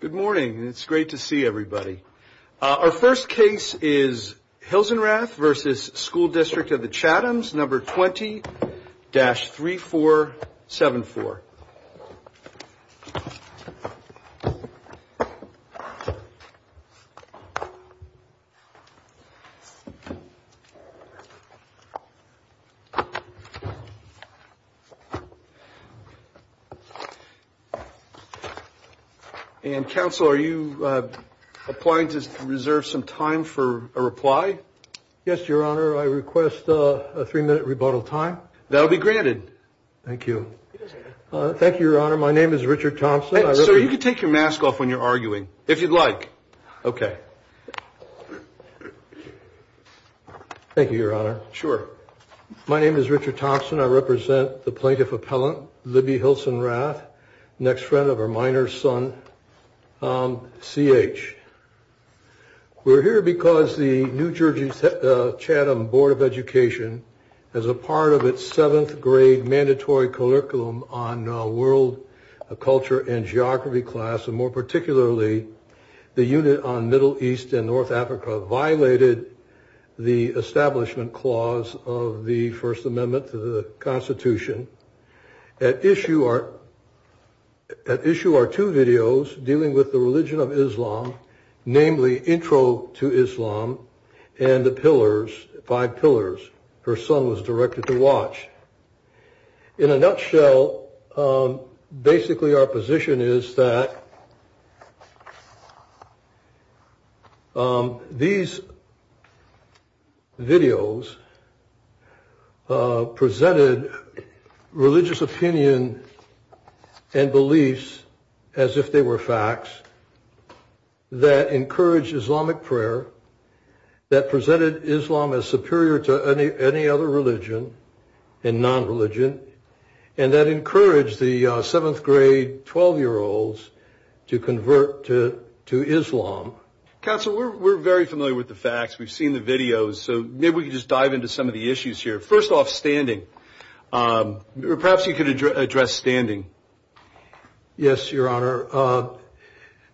Good morning. It's great to see everybody. Our first case is Hilsenrath v. School District of the Chathams, No. 20-3474. And, Counsel, are you applying to reserve some time for a reply? Yes, Your Honor. I request a three-minute rebuttal time. That will be granted. Thank you. Thank you, Your Honor. My name is Richard Thompson. Sir, you can take your mask off when you're arguing, if you'd like. Okay. Thank you, Your Honor. Sure. My name is Richard Thompson. I represent the plaintiff appellant, Libby Hilsenrath, next friend of her minor son, C.H. We're here because the New Jersey Chatham Board of Education, as a part of its seventh grade mandatory curriculum on world culture and geography class, and more particularly the unit on Middle East and North Africa, violated the establishment clause of the First Amendment to the Constitution. At issue are two videos dealing with the religion of Islam, namely Intro to Islam and the Pillars, Five Pillars. Her son was directed to watch. In a nutshell, basically our position is that these videos presented religious opinion and beliefs as if they were facts that encouraged Islamic prayer, that presented Islam as superior to any other religion and non-religion, and that encouraged the seventh grade 12-year-olds to convert to Islam. Counsel, we're very familiar with the facts. We've seen the videos, so maybe we can just dive into some of the issues here. First off, standing. Perhaps you could address standing. Yes, Your Honor.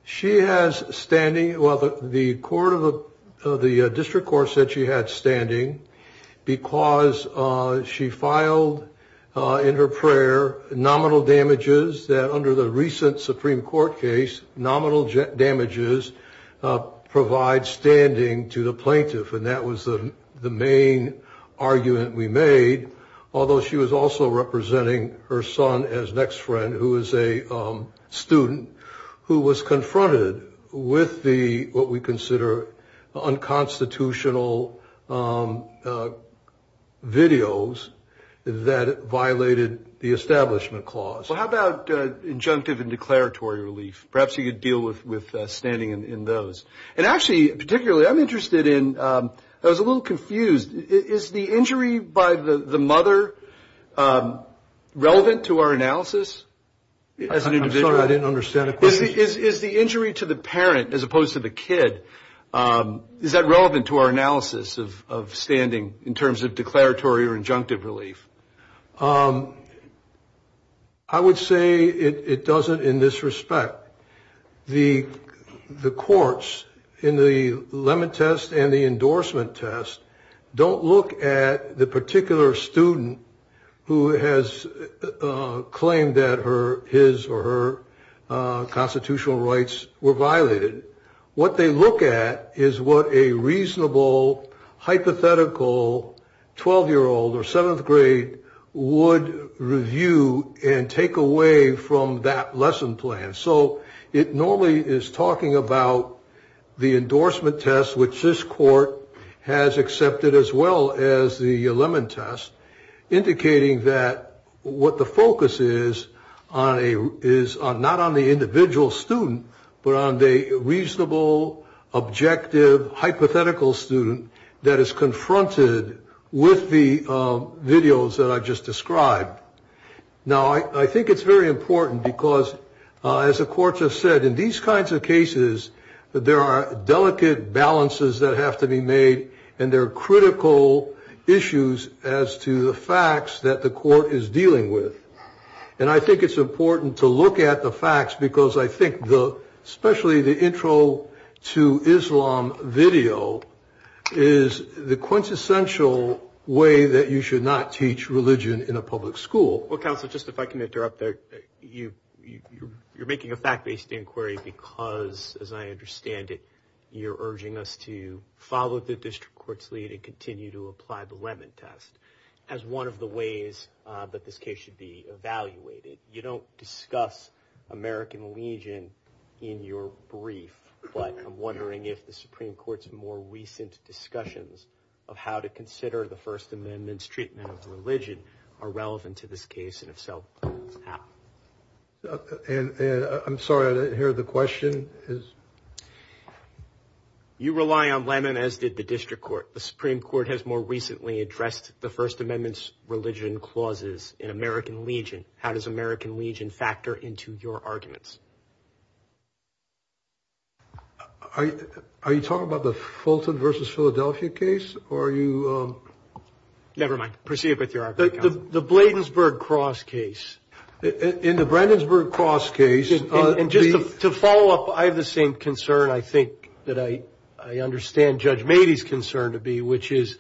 She has standing. Well, the court of the district court said she had standing because she filed in her prayer nominal damages that under the recent Supreme Court case, nominal damages provide standing to the plaintiff, and that was the main argument we made, although she was also representing her son as next friend, who is a student, who was confronted with what we consider unconstitutional videos that violated the Establishment Clause. Well, how about injunctive and declaratory relief? Perhaps you could deal with standing in those. And actually, particularly, I'm interested in, I was a little confused. Is the injury by the mother relevant to our analysis as an individual? I'm sorry, I didn't understand the question. Is the injury to the parent, as opposed to the kid, is that relevant to our analysis of standing in terms of declaratory or injunctive relief? I would say it doesn't in this respect. The courts in the limit test and the endorsement test don't look at the particular student who has claimed that her his or her constitutional rights were violated. What they look at is what a reasonable hypothetical 12-year-old or seventh grade would review and take away from that lesson plan. So it normally is talking about the endorsement test, which this court has accepted as well as the limit test, indicating that what the focus is not on the individual student, but on the reasonable, objective, hypothetical student that is confronted with the videos that I just described. Now, I think it's very important because, as the court just said, in these kinds of cases there are delicate balances that have to be made, and there are critical issues as to the facts that the court is dealing with. And I think it's important to look at the facts because I think, especially the intro to Islam video, is the quintessential way that you should not teach religion in a public school. Well, counsel, just if I can interrupt there, you're making a fact-based inquiry because, as I understand it, you're urging us to follow the district court's lead and continue to apply the limit test as one of the ways that this case should be evaluated. You don't discuss American Legion in your brief, but I'm wondering if the Supreme Court's more recent discussions of how to consider the First Amendment's treatment of religion are relevant to this case and if so, how? I'm sorry, I didn't hear the question. You rely on Lemon, as did the district court. The Supreme Court has more recently addressed the First Amendment's religion clauses in American Legion. How does American Legion factor into your arguments? Are you talking about the Fulton v. Philadelphia case, or are you? Never mind. Proceed with your argument, counsel. The Bladensburg Cross case. In the Bladensburg Cross case. And just to follow up, I have the same concern, I think, that I understand Judge Mady's concern to be, which is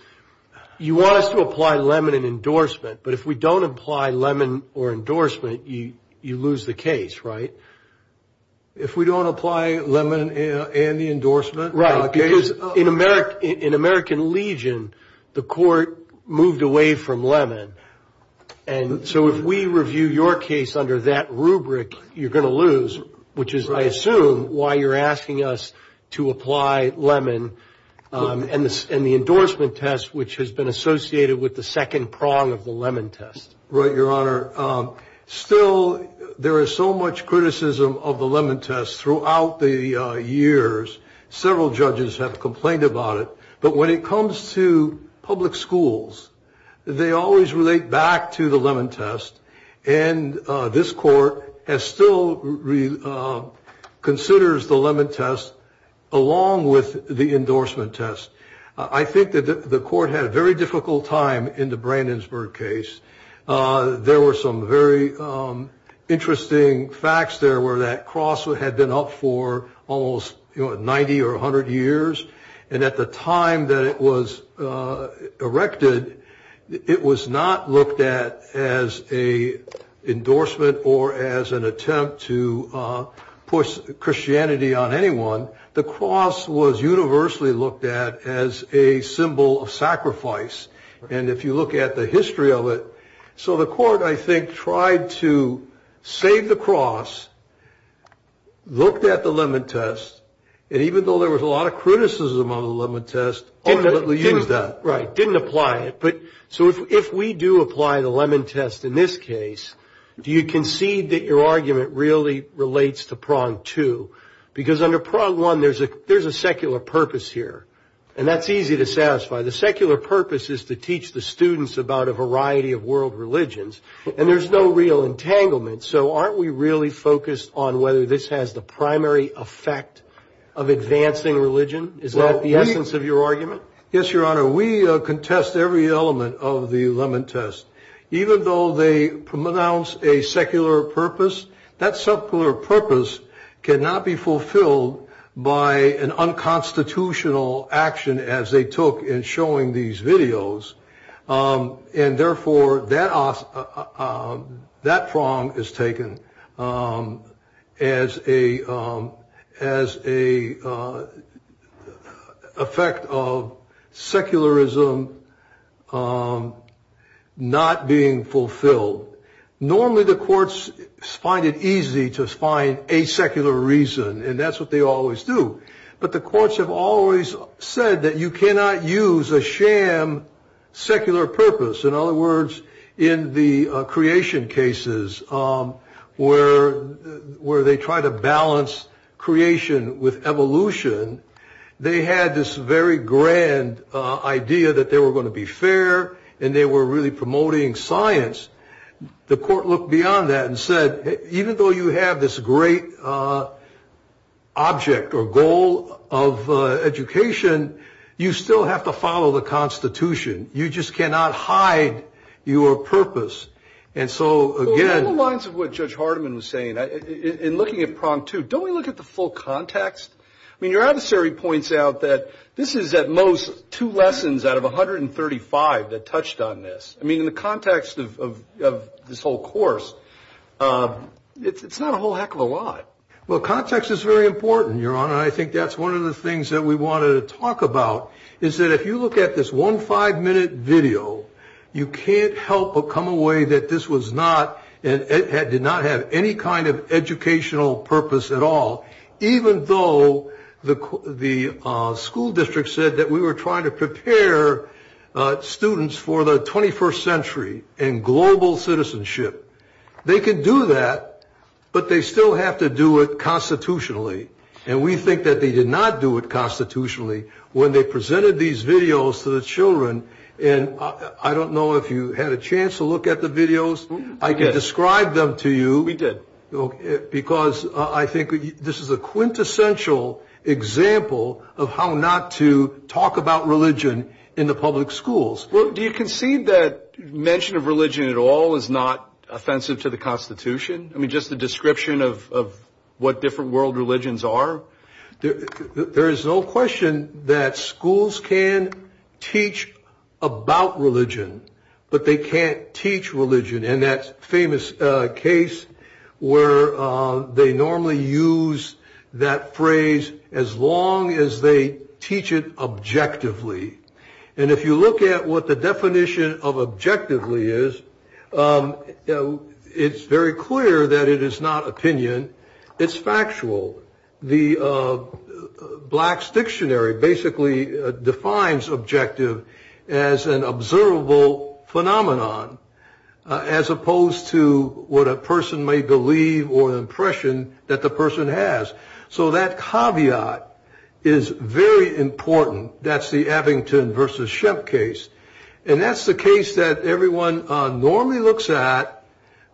you want us to apply Lemon in endorsement, but if we don't apply Lemon or endorsement, you lose the case, right? If we don't apply Lemon and the endorsement? Right, because in American Legion, the court moved away from Lemon, and so if we review your case under that rubric, you're going to lose, which is, I assume, why you're asking us to apply Lemon and the endorsement test, which has been associated with the second prong of the Lemon test. Right, Your Honor. Still, there is so much criticism of the Lemon test throughout the years. Several judges have complained about it. But when it comes to public schools, they always relate back to the Lemon test, and this court still considers the Lemon test along with the endorsement test. I think that the court had a very difficult time in the Bladensburg case. There were some very interesting facts there where that cross had been up for almost 90 or 100 years, and at the time that it was erected, it was not looked at as an endorsement or as an attempt to push Christianity on anyone. The cross was universally looked at as a symbol of sacrifice, and if you look at the history of it, so the court, I think, tried to save the cross, looked at the Lemon test, and even though there was a lot of criticism on the Lemon test, ultimately used that. Right, didn't apply it. So if we do apply the Lemon test in this case, do you concede that your argument really relates to prong two? Because under prong one, there's a secular purpose here, and that's easy to satisfy. The secular purpose is to teach the students about a variety of world religions, and there's no real entanglement. So aren't we really focused on whether this has the primary effect of advancing religion? Is that the essence of your argument? Yes, Your Honor. We contest every element of the Lemon test. Even though they pronounce a secular purpose, that secular purpose cannot be fulfilled by an unconstitutional action as they took in showing these videos, and therefore that prong is taken as a effect of secularism not being fulfilled. Normally the courts find it easy to find a secular reason, and that's what they always do, but the courts have always said that you cannot use a sham secular purpose. In other words, in the creation cases where they try to balance creation with evolution, they had this very grand idea that they were going to be fair, and they were really promoting science. The court looked beyond that and said, even though you have this great object or goal of education, you still have to follow the Constitution. You just cannot hide your purpose. And so again... Well, along the lines of what Judge Hardiman was saying, in looking at prong two, don't we look at the full context? I mean, your adversary points out that this is at most two lessons out of 135 that touched on this. I mean, in the context of this whole course, it's not a whole heck of a lot. Well, context is very important, Your Honor. I think that's one of the things that we wanted to talk about, is that if you look at this one five-minute video, you can't help but come away that this did not have any kind of educational purpose at all, even though the school district said that we were trying to prepare students for the 21st century and global citizenship. They could do that, but they still have to do it constitutionally. And we think that they did not do it constitutionally when they presented these videos to the children. And I don't know if you had a chance to look at the videos. I could describe them to you. We did. Because I think this is a quintessential example of how not to talk about religion in the public schools. Well, do you concede that mention of religion at all is not offensive to the Constitution? I mean, just the description of what different world religions are? There is no question that schools can teach about religion, but they can't teach religion. And that famous case where they normally use that phrase as long as they teach it objectively. And if you look at what the definition of objectively is, it's very clear that it is not opinion. It's factual. The Blacks Dictionary basically defines objective as an observable phenomenon. As opposed to what a person may believe or the impression that the person has. So that caveat is very important. That's the Abington versus Shemp case. And that's the case that everyone normally looks at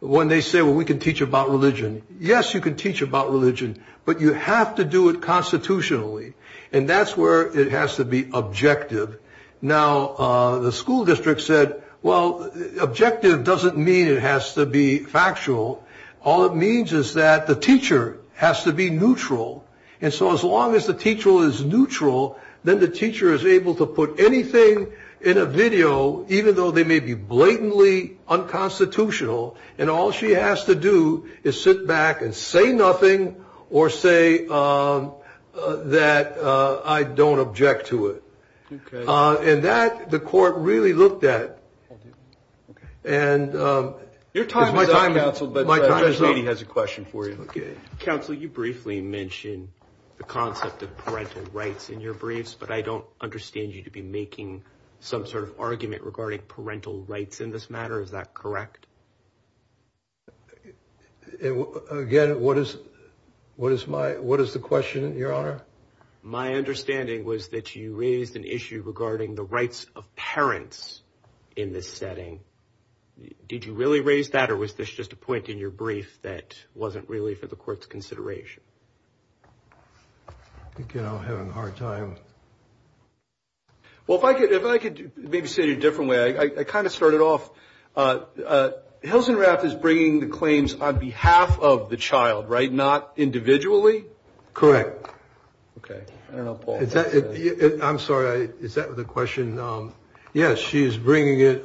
when they say, well, we can teach about religion. Yes, you can teach about religion, but you have to do it constitutionally. And that's where it has to be objective. Now, the school district said, well, objective doesn't mean it has to be factual. All it means is that the teacher has to be neutral. And so as long as the teacher is neutral, then the teacher is able to put anything in a video, even though they may be blatantly unconstitutional. And all she has to do is sit back and say nothing or say that I don't object to it. And that the court really looked at. And your time, my time. But he has a question for you. OK, counsel, you briefly mentioned the concept of parental rights in your briefs. But I don't understand you to be making some sort of argument regarding parental rights in this matter. Is that correct? Again, what is what is my what is the question, Your Honor? My understanding was that you raised an issue regarding the rights of parents in this setting. Did you really raise that or was this just a point in your brief that wasn't really for the court's consideration? You know, having a hard time. Well, if I could, if I could maybe say it a different way, I kind of started off. Hilsenrath is bringing the claims on behalf of the child, right? Not individually. Correct. OK, I don't know. I'm sorry. Is that the question? Yes, she is bringing it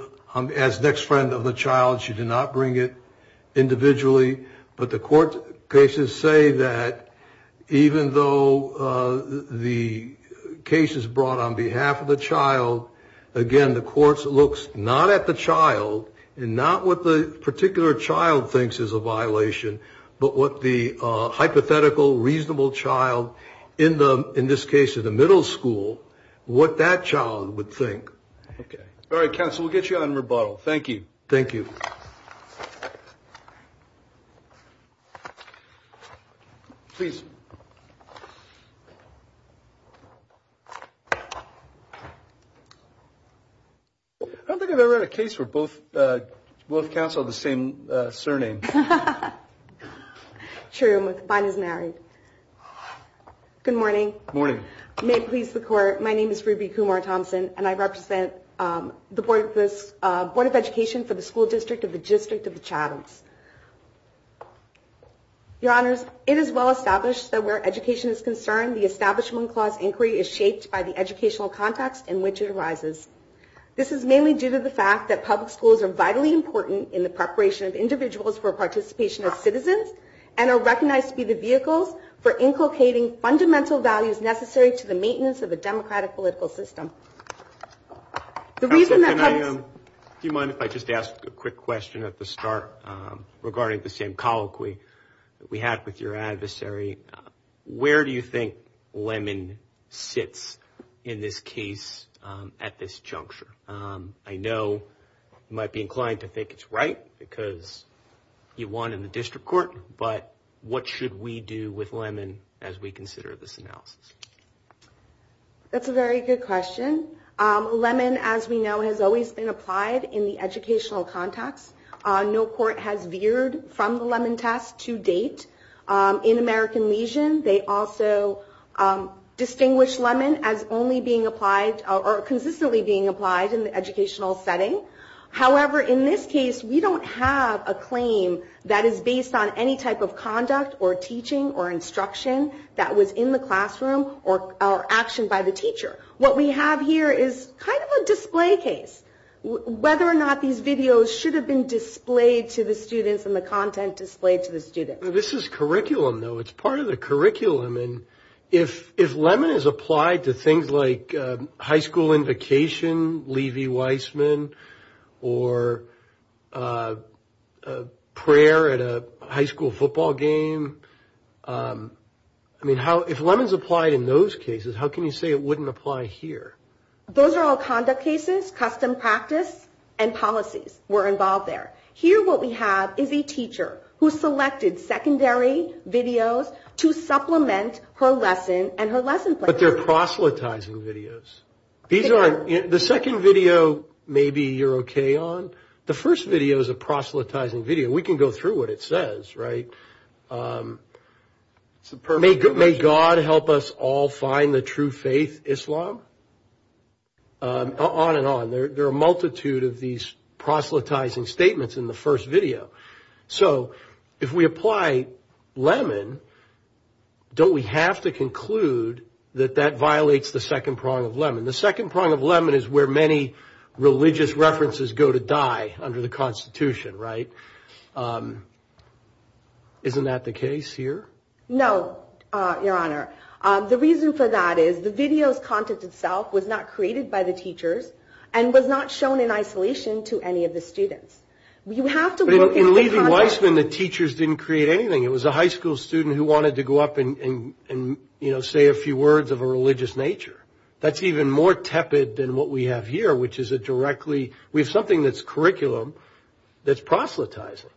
as next friend of the child. She did not bring it individually. But the court cases say that even though the case is brought on behalf of the child, again, the courts looks not at the child and not what the particular child thinks is a violation, but what the hypothetical reasonable child in the in this case of the middle school, what that child would think. All right, counsel, we'll get you on rebuttal. Thank you. Thank you. Please. I don't think I've ever had a case where both both counsel the same surname. True. Mine is married. Good morning. Morning. May it please the court. My name is Ruby Kumar Thompson, and I represent the Board of Education for the School District of the District of the Chathams. Your honors, it is well established that where education is concerned, the establishment clause inquiry is shaped by the educational context in which it arises. This is mainly due to the fact that public schools are vitally important in the preparation of individuals for participation of citizens and are recognized to be the vehicles for inculcating fundamental values necessary to the Do you mind if I just ask a quick question at the start regarding the same colloquy we had with your adversary? Where do you think Lemon sits in this case at this juncture? I know you might be inclined to think it's right because you won in the district court. But what should we do with Lemon as we consider this analysis? That's a very good question. Lemon, as we know, has always been applied in the educational context. No court has veered from the Lemon test to date. In American Legion, they also distinguish Lemon as only being applied or consistently being applied in the educational setting. However, in this case, we don't have a claim that is based on any type of conduct or teaching or instruction that was in the classroom or action by the teacher. What we have here is kind of a display case, whether or not these videos should have been displayed to the students and the content displayed to the students. This is curriculum, though. It's part of the curriculum. If Lemon is applied to things like high school invocation, Levy-Weissman, or prayer at a high school football game, I mean, if Lemon is applied in those cases, how can you say it wouldn't apply here? Those are all conduct cases, custom practice, and policies were involved there. Here what we have is a teacher who selected secondary videos to supplement her lesson and her lesson plan. But they're proselytizing videos. The second video, maybe you're OK on. The first video is a proselytizing video. We can go through what it says, right? May God help us all find the true faith, Islam? On and on. There are a multitude of these proselytizing statements in the first video. So if we apply Lemon, don't we have to conclude that that violates the second prong of Lemon? The second prong of Lemon is where many religious references go to die under the Constitution, right? Isn't that the case here? No, Your Honor. The reason for that is the video's content itself was not created by the teachers and was not shown in isolation to any of the students. In Levi-Weissman, the teachers didn't create anything. It was a high school student who wanted to go up and say a few words of a religious nature. That's even more tepid than what we have here, which is a directly – we have something that's curriculum that's proselytizing.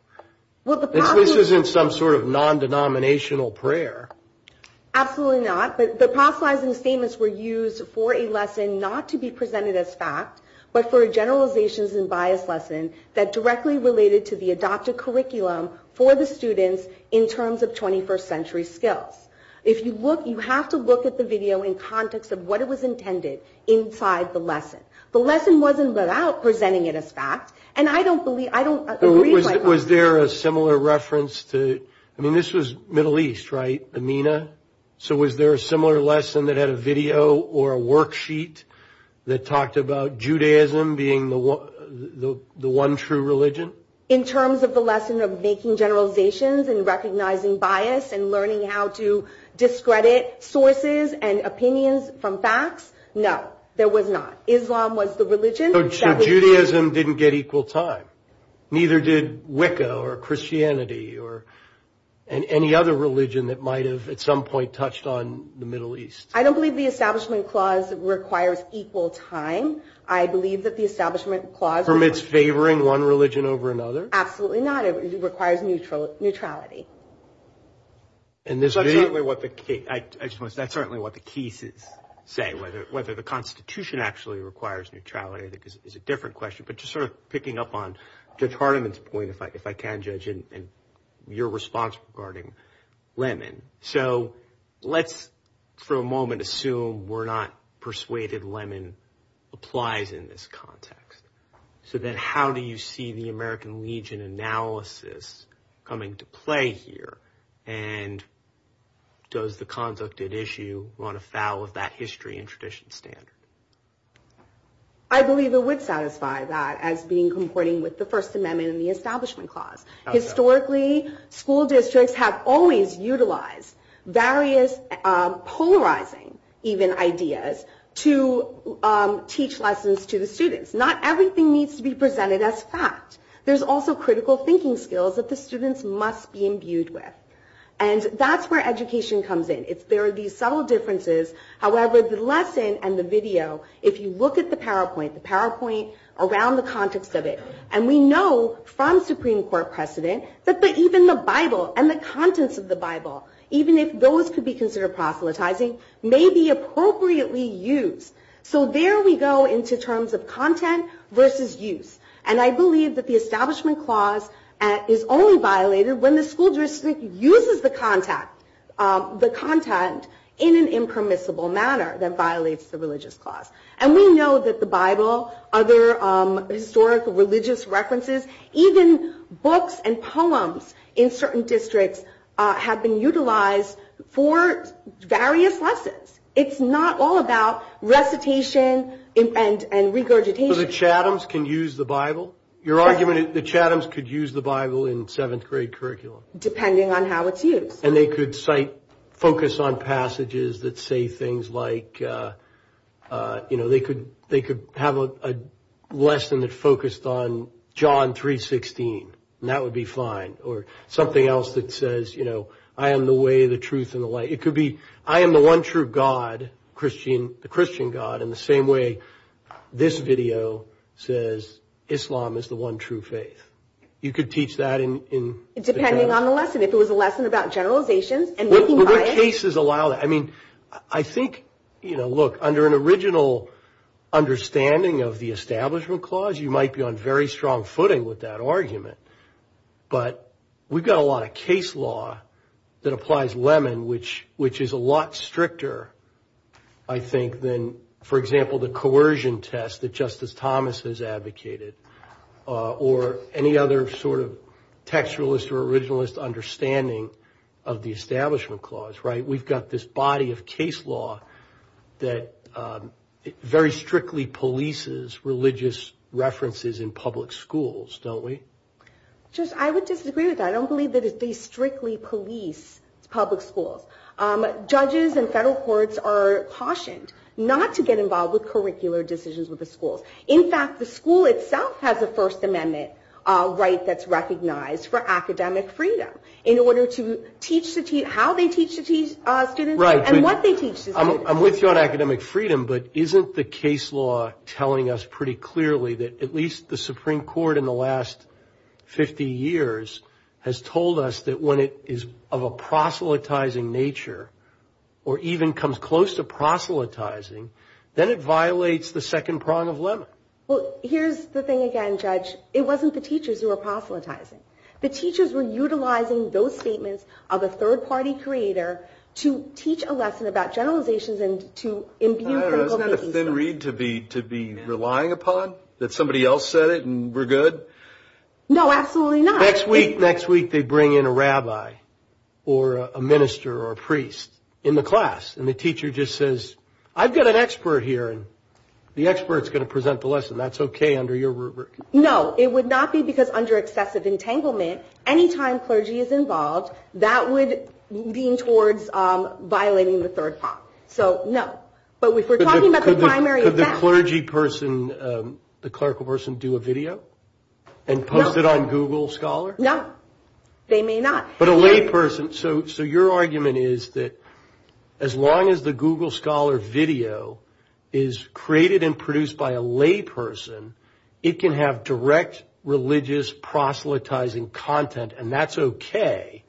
This isn't some sort of non-denominational prayer. Absolutely not. But the proselytizing statements were used for a lesson not to be presented as fact but for a generalizations and bias lesson that directly related to the adopted curriculum for the students in terms of 21st century skills. If you look, you have to look at the video in context of what it was intended inside the lesson. The lesson wasn't without presenting it as fact. And I don't believe – I don't agree with Levi-Weissman. Was there a similar reference to – I mean, this was Middle East, right? Amina? So was there a similar lesson that had a video or a worksheet that talked about Judaism being the one true religion? In terms of the lesson of making generalizations and recognizing bias and learning how to discredit sources and opinions from facts, no, there was not. Islam was the religion. So Judaism didn't get equal time. Neither did Wicca or Christianity or any other religion that might have at some point touched on the Middle East. I don't believe the Establishment Clause requires equal time. I believe that the Establishment Clause – Permits favoring one religion over another? Absolutely not. It requires neutrality. And this video – That's certainly what the – I just want to say that's certainly what the cases say, whether the Constitution actually requires neutrality is a different question. But just sort of picking up on Judge Hardiman's point, if I can, Judge, and your response regarding Lemon. So let's for a moment assume we're not persuaded Lemon applies in this context. So then how do you see the American Legion analysis coming to play here? And does the conduct at issue run afoul of that history and tradition standard? I believe it would satisfy that as being comporting with the First Amendment and the Establishment Clause. Historically, school districts have always utilized various polarizing even ideas to teach lessons to the students. Not everything needs to be presented as fact. There's also critical thinking skills that the students must be imbued with. And that's where education comes in. There are these subtle differences. However, the lesson and the video, if you look at the PowerPoint, the PowerPoint around the context of it, and we know from Supreme Court precedent that even the Bible and the contents of the Bible, even if those could be considered proselytizing, may be appropriately used. So there we go into terms of content versus use. And I believe that the Establishment Clause is only violated when the school district uses the content in an impermissible manner that violates the Religious Clause. And we know that the Bible, other historical religious references, even books and poems in certain districts have been utilized for various lessons. It's not all about recitation and regurgitation. So the Chathams can use the Bible? Your argument is the Chathams could use the Bible in seventh grade curriculum? Depending on how it's used. And they could focus on passages that say things like, you know, they could have a lesson that focused on John 3.16. And that would be fine. Or something else that says, you know, I am the way, the truth, and the light. It could be I am the one true God, the Christian God, in the same way this video says Islam is the one true faith. You could teach that? Depending on the lesson. If it was a lesson about generalizations. Would cases allow that? I mean, I think, you know, look, under an original understanding of the Establishment Clause, you might be on very strong footing with that argument. But we've got a lot of case law that applies lemon, which is a lot stricter, I think, than, for example, the coercion test that Justice Thomas has advocated. Or any other sort of textualist or originalist understanding of the Establishment Clause, right? We've got this body of case law that very strictly polices religious references in public schools, don't we? Judge, I would disagree with that. I don't believe that they strictly police public schools. Judges and federal courts are cautioned not to get involved with curricular decisions with the schools. In fact, the school itself has a First Amendment right that's recognized for academic freedom. In order to teach the students how they teach the students and what they teach the students. I'm with you on academic freedom. But isn't the case law telling us pretty clearly that at least the Supreme Court in the last 50 years has told us that when it is of a proselytizing nature or even comes close to proselytizing, then it violates the second prong of limit. Well, here's the thing again, Judge. It wasn't the teachers who were proselytizing. The teachers were utilizing those statements of a third-party creator to teach a lesson about generalizations and to imbue critical thinking. Isn't that a thin reed to be relying upon? That somebody else said it and we're good? No, absolutely not. Next week they bring in a rabbi or a minister or a priest in the class. And the teacher just says, I've got an expert here. The expert's going to present the lesson. That's okay under your rubric. No, it would not be because under excessive entanglement, any time clergy is involved, that would lean towards violating the third prong. So, no. But if we're talking about the primary event. Could the clergy person, the clerical person, do a video and post it on Google Scholar? No, they may not. But a lay person. So, your argument is that as long as the Google Scholar video is created and produced by a lay person, it can have direct religious proselytizing content and that's okay.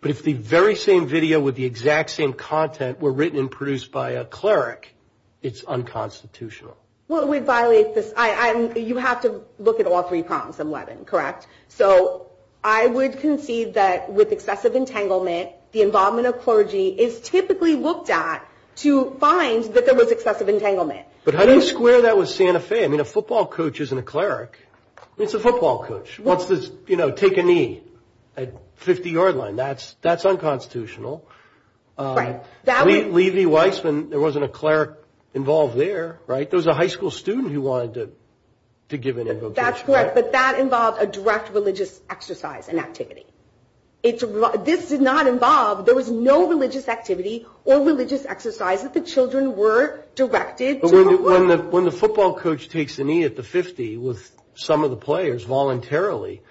But if the very same video with the exact same content were written and produced by a cleric, it's unconstitutional. Well, we violate this. You have to look at all three prongs in Levin, correct? So, I would concede that with excessive entanglement, the involvement of clergy is typically looked at to find that there was excessive entanglement. But how do you square that with Santa Fe? I mean, a football coach isn't a cleric. It's a football coach. What's this, you know, take a knee at 50-yard line? That's unconstitutional. Right. Levy-Weissman, there wasn't a cleric involved there, right? There was a high school student who wanted to give an invocation. That's correct. But that involved a direct religious exercise and activity. This did not involve, there was no religious activity or religious exercise that the children were directed to. When the football coach takes a knee at the 50 with some of the players voluntarily,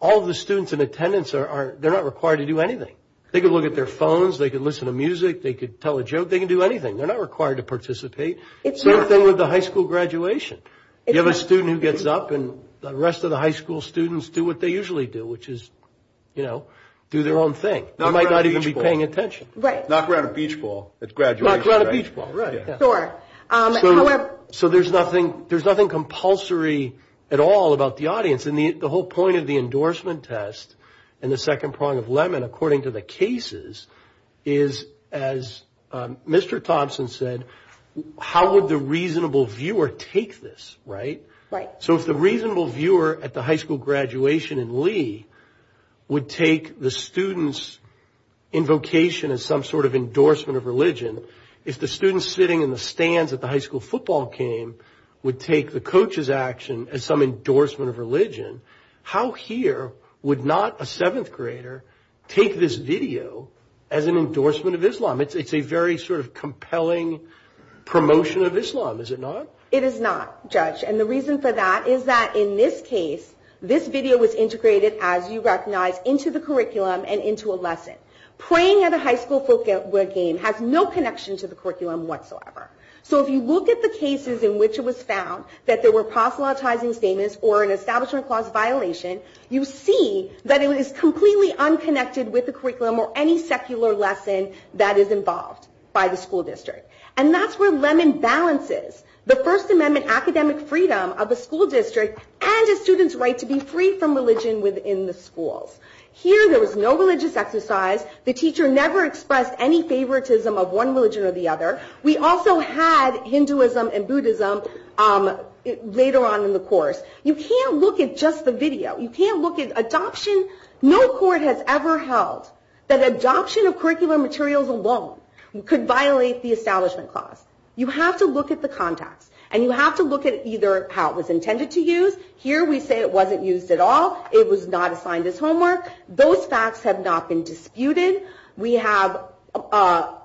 all of the students in attendance, they're not required to do anything. They can look at their phones, they can listen to music, they can tell a joke, they can do anything. They're not required to participate. Same thing with the high school graduation. You have a student who gets up and the rest of the high school students do what they usually do, which is, you know, do their own thing. They might not even be paying attention. Right. Knock around a beach ball at graduation. Knock around a beach ball, right. Sure. So there's nothing compulsory at all about the audience. And the whole point of the endorsement test and the second prong of Lemon, according to the cases, is, as Mr. Thompson said, how would the reasonable viewer take this, right? Right. So if the reasonable viewer at the high school graduation in Lee would take the students' invocation as some sort of endorsement of religion, if the students sitting in the stands at the high school football game would take the coaches' action as some endorsement of religion, how here would not a seventh grader take this video as an endorsement of Islam? It's a very sort of compelling promotion of Islam, is it not? It is not, Judge. And the reason for that is that in this case, this video was integrated, as you recognize, into the curriculum and into a lesson. Praying at a high school football game has no connection to the curriculum whatsoever. So if you look at the cases in which it was found that there were proselytizing statements or an establishment clause violation, you see that it is completely unconnected with the curriculum or any secular lesson that is involved by the school district. And that's where Lemon balances the First Amendment academic freedom of a school district and a student's right to be free from religion within the schools. Here, there was no religious exercise. The teacher never expressed any favoritism of one religion or the other. We also had Hinduism and Buddhism later on in the course. You can't look at just the video. You can't look at adoption. No court has ever held that adoption of curricular materials alone could violate the establishment clause. You have to look at the context. And you have to look at either how it was intended to use. Here, we say it wasn't used at all. It was not assigned as homework. Those facts have not been disputed. We have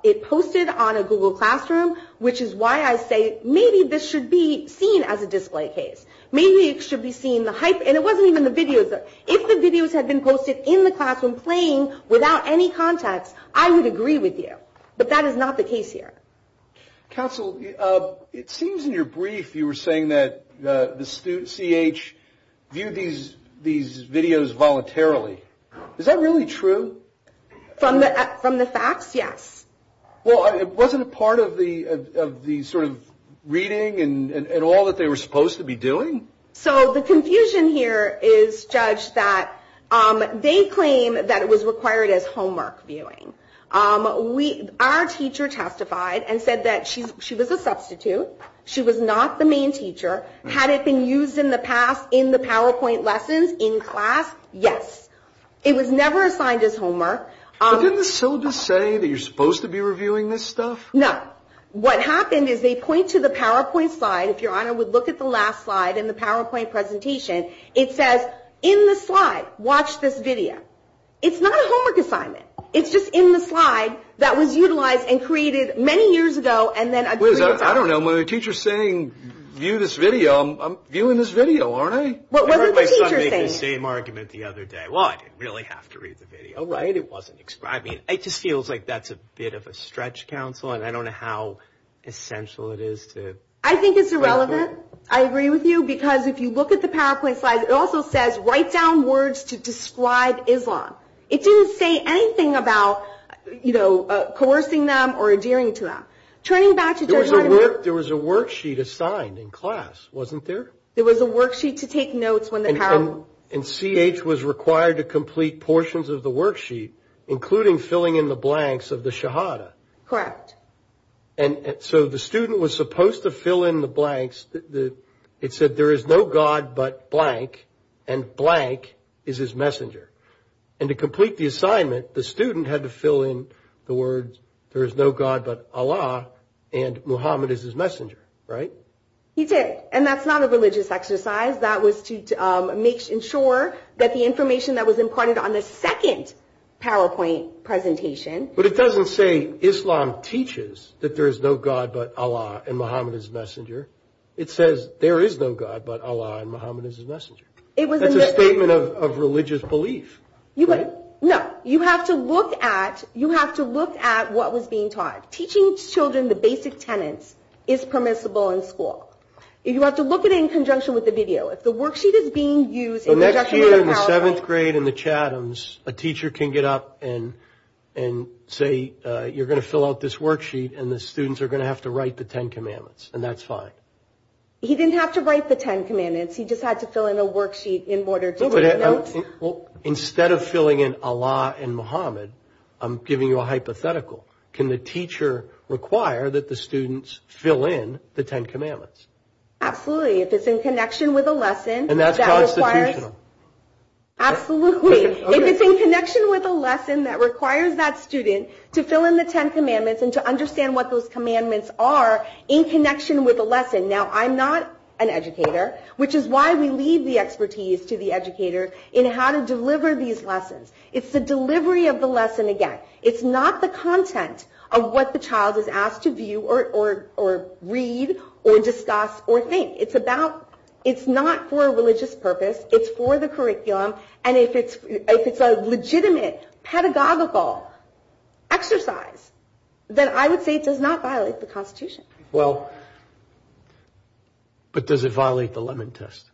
it posted on a Google Classroom, which is why I say maybe this should be seen as a display case. Maybe it should be seen, and it wasn't even the videos. If the videos had been posted in the classroom playing without any context, I would agree with you. But that is not the case here. Counsel, it seems in your brief you were saying that the CH viewed these videos voluntarily. Is that really true? From the facts, yes. Well, it wasn't a part of the sort of reading and all that they were supposed to be doing? So the confusion here is, Judge, that they claim that it was required as homework viewing. Our teacher testified and said that she was a substitute. She was not the main teacher. Had it been used in the past in the PowerPoint lessons in class? Yes. It was never assigned as homework. But didn't the syllabus say that you're supposed to be reviewing this stuff? No. What happened is they point to the PowerPoint slide. If Your Honor would look at the last slide in the PowerPoint presentation, it says, in the slide, watch this video. It's not a homework assignment. It's just in the slide that was utilized and created many years ago and then agreed upon. Liz, I don't know. When the teacher's saying, view this video, I'm viewing this video, aren't I? I heard my son make the same argument the other day. Well, I didn't really have to read the video, right? It wasn't describing it. It just feels like that's a bit of a stretch, counsel, and I don't know how essential it is to. I think it's irrelevant. I agree with you because if you look at the PowerPoint slides, it also says, write down words to describe Islam. It didn't say anything about, you know, coercing them or adhering to them. Turning back to Judge Vladimir. There was a worksheet assigned in class, wasn't there? There was a worksheet to take notes when the. And CH was required to complete portions of the worksheet, including filling in the blanks of the Shahada. Correct. And so the student was supposed to fill in the blanks. It said, there is no God but blank, and blank is his messenger. And to complete the assignment, the student had to fill in the words, there is no God but Allah, and Muhammad is his messenger, right? He did. And that's not a religious exercise. That was to ensure that the information that was imparted on the second PowerPoint presentation. But it doesn't say, Islam teaches that there is no God but Allah, and Muhammad is his messenger. It says, there is no God but Allah, and Muhammad is his messenger. That's a statement of religious belief, right? No. You have to look at what was being taught. Teaching children the basic tenets is permissible in school. You have to look at it in conjunction with the video. If the worksheet is being used in conjunction with the PowerPoint. The next year in the seventh grade in the Chathams, a teacher can get up and say, you're going to fill out this worksheet, and the students are going to have to write the Ten Commandments, and that's fine. He didn't have to write the Ten Commandments. He just had to fill in a worksheet in order to take notes. Well, instead of filling in Allah and Muhammad, I'm giving you a hypothetical. Can the teacher require that the students fill in the Ten Commandments? Absolutely. If it's in connection with a lesson. And that's constitutional. Absolutely. If it's in connection with a lesson that requires that student to fill in the Ten Commandments and to understand what those commandments are in connection with a lesson. Now, I'm not an educator, which is why we leave the expertise to the educator in how to deliver these lessons. It's the delivery of the lesson, again. It's not the content of what the child is asked to view or read or discuss or think. It's not for a religious purpose. It's for the curriculum. And if it's a legitimate pedagogical exercise, then I would say it does not violate the Constitution. Well, but does it violate the Lemon Test?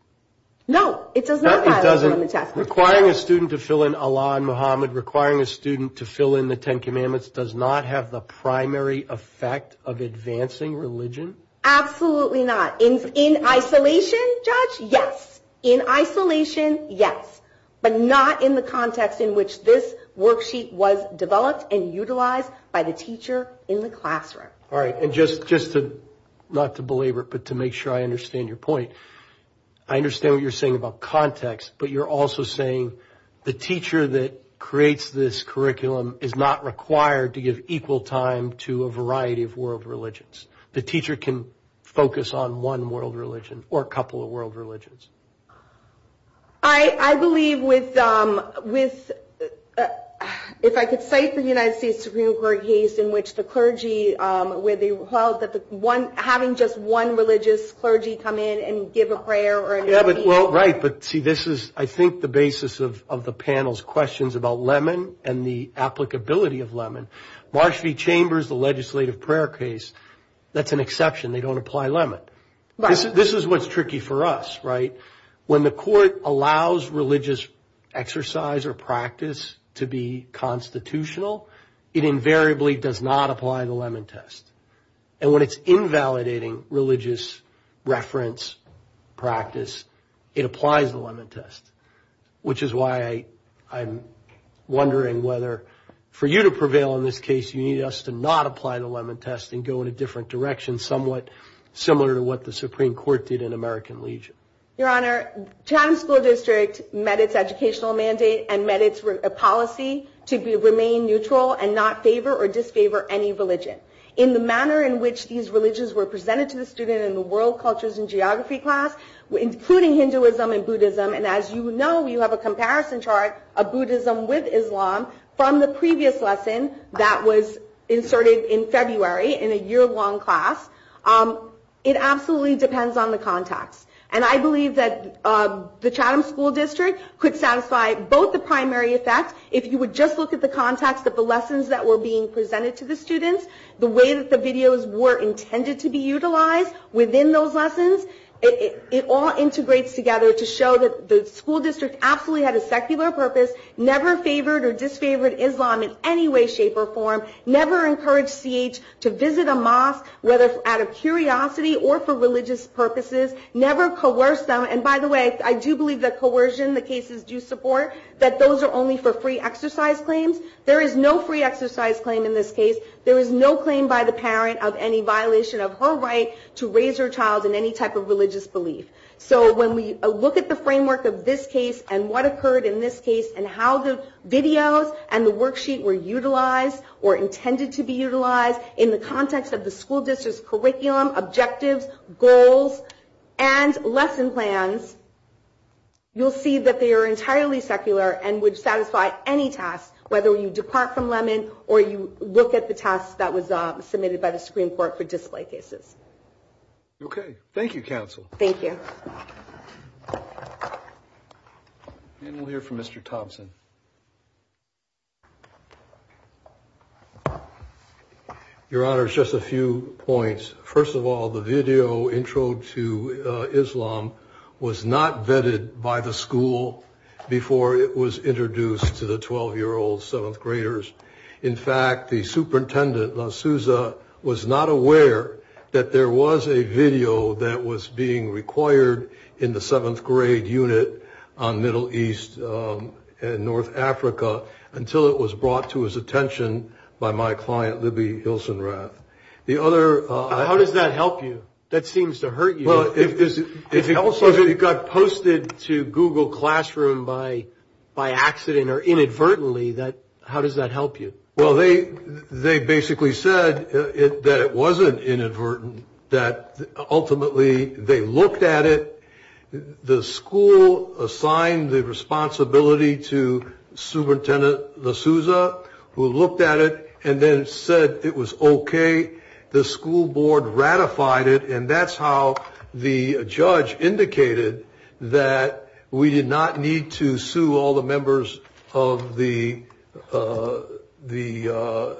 No, it does not violate the Lemon Test. Requiring a student to fill in Allah and Muhammad, requiring a student to fill in the Ten Commandments, does not have the primary effect of advancing religion? Absolutely not. In isolation, Judge, yes. In isolation, yes. But not in the context in which this worksheet was developed and utilized by the teacher in the classroom. All right. And just to, not to belabor it, but to make sure I understand your point, I understand what you're saying about context, but you're also saying the teacher that creates this curriculum is not required to give equal time to a variety of world religions. The teacher can focus on one world religion or a couple of world religions. I believe with, if I could cite the United States Supreme Court case in which the clergy, where they held that the one, having just one religious clergy come in and give a prayer. Yeah, but, well, right. But, see, this is, I think, the basis of the panel's questions about Lemon and the applicability of Lemon. Marsh v. Chambers, the legislative prayer case, that's an exception. They don't apply Lemon. This is what's tricky for us, right? When the court allows religious exercise or practice to be constitutional, it invariably does not apply the Lemon test. And when it's invalidating religious reference practice, it applies the Lemon test, which is why I'm wondering whether, for you to prevail in this case, you need us to not apply the Lemon test and go in a different direction, somewhat similar to what the Supreme Court did in American Legion. Your Honor, Chatham School District met its educational mandate and met its policy to remain neutral and not favor or disfavor any religion. In the manner in which these religions were presented to the student in the World Cultures and Geography class, including Hinduism and Buddhism, and as you know, you have a comparison chart of Buddhism with Islam, from the previous lesson that was inserted in February in a year-long class, it absolutely depends on the context. And I believe that the Chatham School District could satisfy both the primary effects, if you would just look at the context of the lessons that were being presented to the students, the way that the videos were intended to be utilized within those lessons, it all integrates together to show that the school district absolutely had a secular purpose, never favored or disfavored Islam in any way, shape, or form, never encouraged CH to visit a mosque, whether out of curiosity or for religious purposes, never coerced them, and by the way, I do believe that coercion, the cases do support, that those are only for free exercise claims. There is no free exercise claim in this case. There is no claim by the parent of any violation of her right to raise her child in any type of religious belief. So when we look at the framework of this case and what occurred in this case and how the videos and the worksheet were utilized or intended to be utilized in the context of the school district's curriculum, objectives, goals, and lesson plans, you'll see that they are entirely secular and would satisfy any task, whether you depart from Lemon or you look at the task that was submitted by the Supreme Court for display cases. Okay. Thank you, Counsel. Thank you. And we'll hear from Mr. Thompson. Your Honor, just a few points. First of all, the video intro to Islam was not vetted by the school before it was introduced to the 12-year-old 7th graders. In fact, the superintendent, La Souza, was not aware that there was a video that was being required in the 7th grade unit on Middle East and North Africa until it was brought to his attention by my client, Libby Hilsenrath. How does that help you? That seems to hurt you. If it got posted to Google Classroom by accident or inadvertently, how does that help you? Well, they basically said that it wasn't inadvertent, that ultimately they looked at it. The school assigned the responsibility to Superintendent La Souza, who looked at it and then said it was okay. The school board ratified it, and that's how the judge indicated that we did not need to sue all the members of the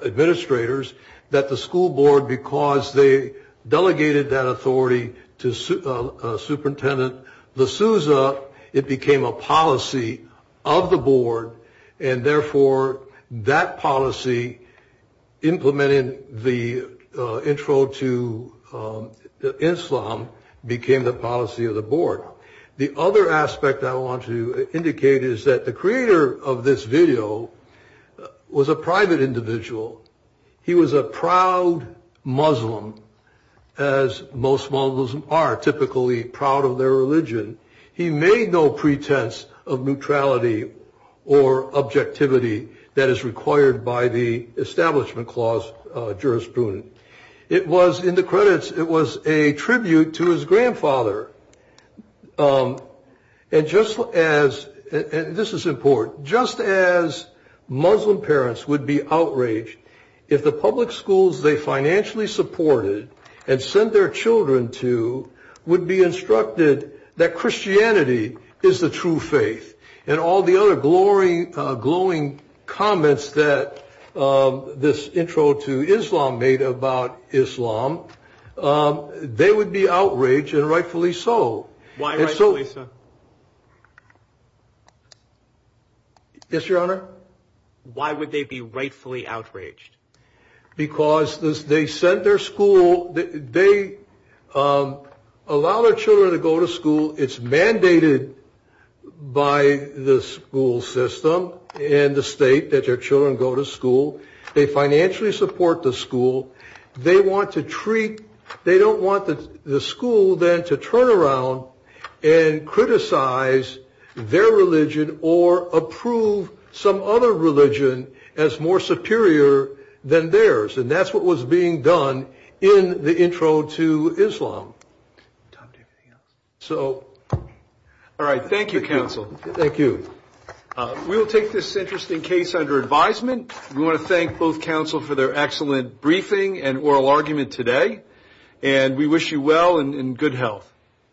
administrators, that the school board, because they delegated that authority to Superintendent La Souza, it became a policy of the board. And therefore, that policy implementing the intro to Islam became the policy of the board. The other aspect I want to indicate is that the creator of this video was a private individual. He was a proud Muslim, as most Muslims are typically proud of their religion. He made no pretense of neutrality or objectivity that is required by the Establishment Clause jurisprudence. It was, in the credits, it was a tribute to his grandfather. And just as, and this is important, just as Muslim parents would be outraged if the public schools they financially supported and sent their children to would be instructed that Christianity is the true faith, and all the other glowing comments that this intro to Islam made about Islam, they would be outraged, and rightfully so. Why rightfully so? Yes, Your Honor? Why would they be rightfully outraged? Because they sent their school, they allow their children to go to school. It's mandated by the school system and the state that their children go to school. They financially support the school. They want to treat, they don't want the school then to turn around and criticize their religion or approve some other religion as more superior than theirs. And that's what was being done in the intro to Islam. So. All right. Thank you, counsel. Thank you. We will take this interesting case under advisement. We want to thank both counsel for their excellent briefing and oral argument today. And we wish you well and good health.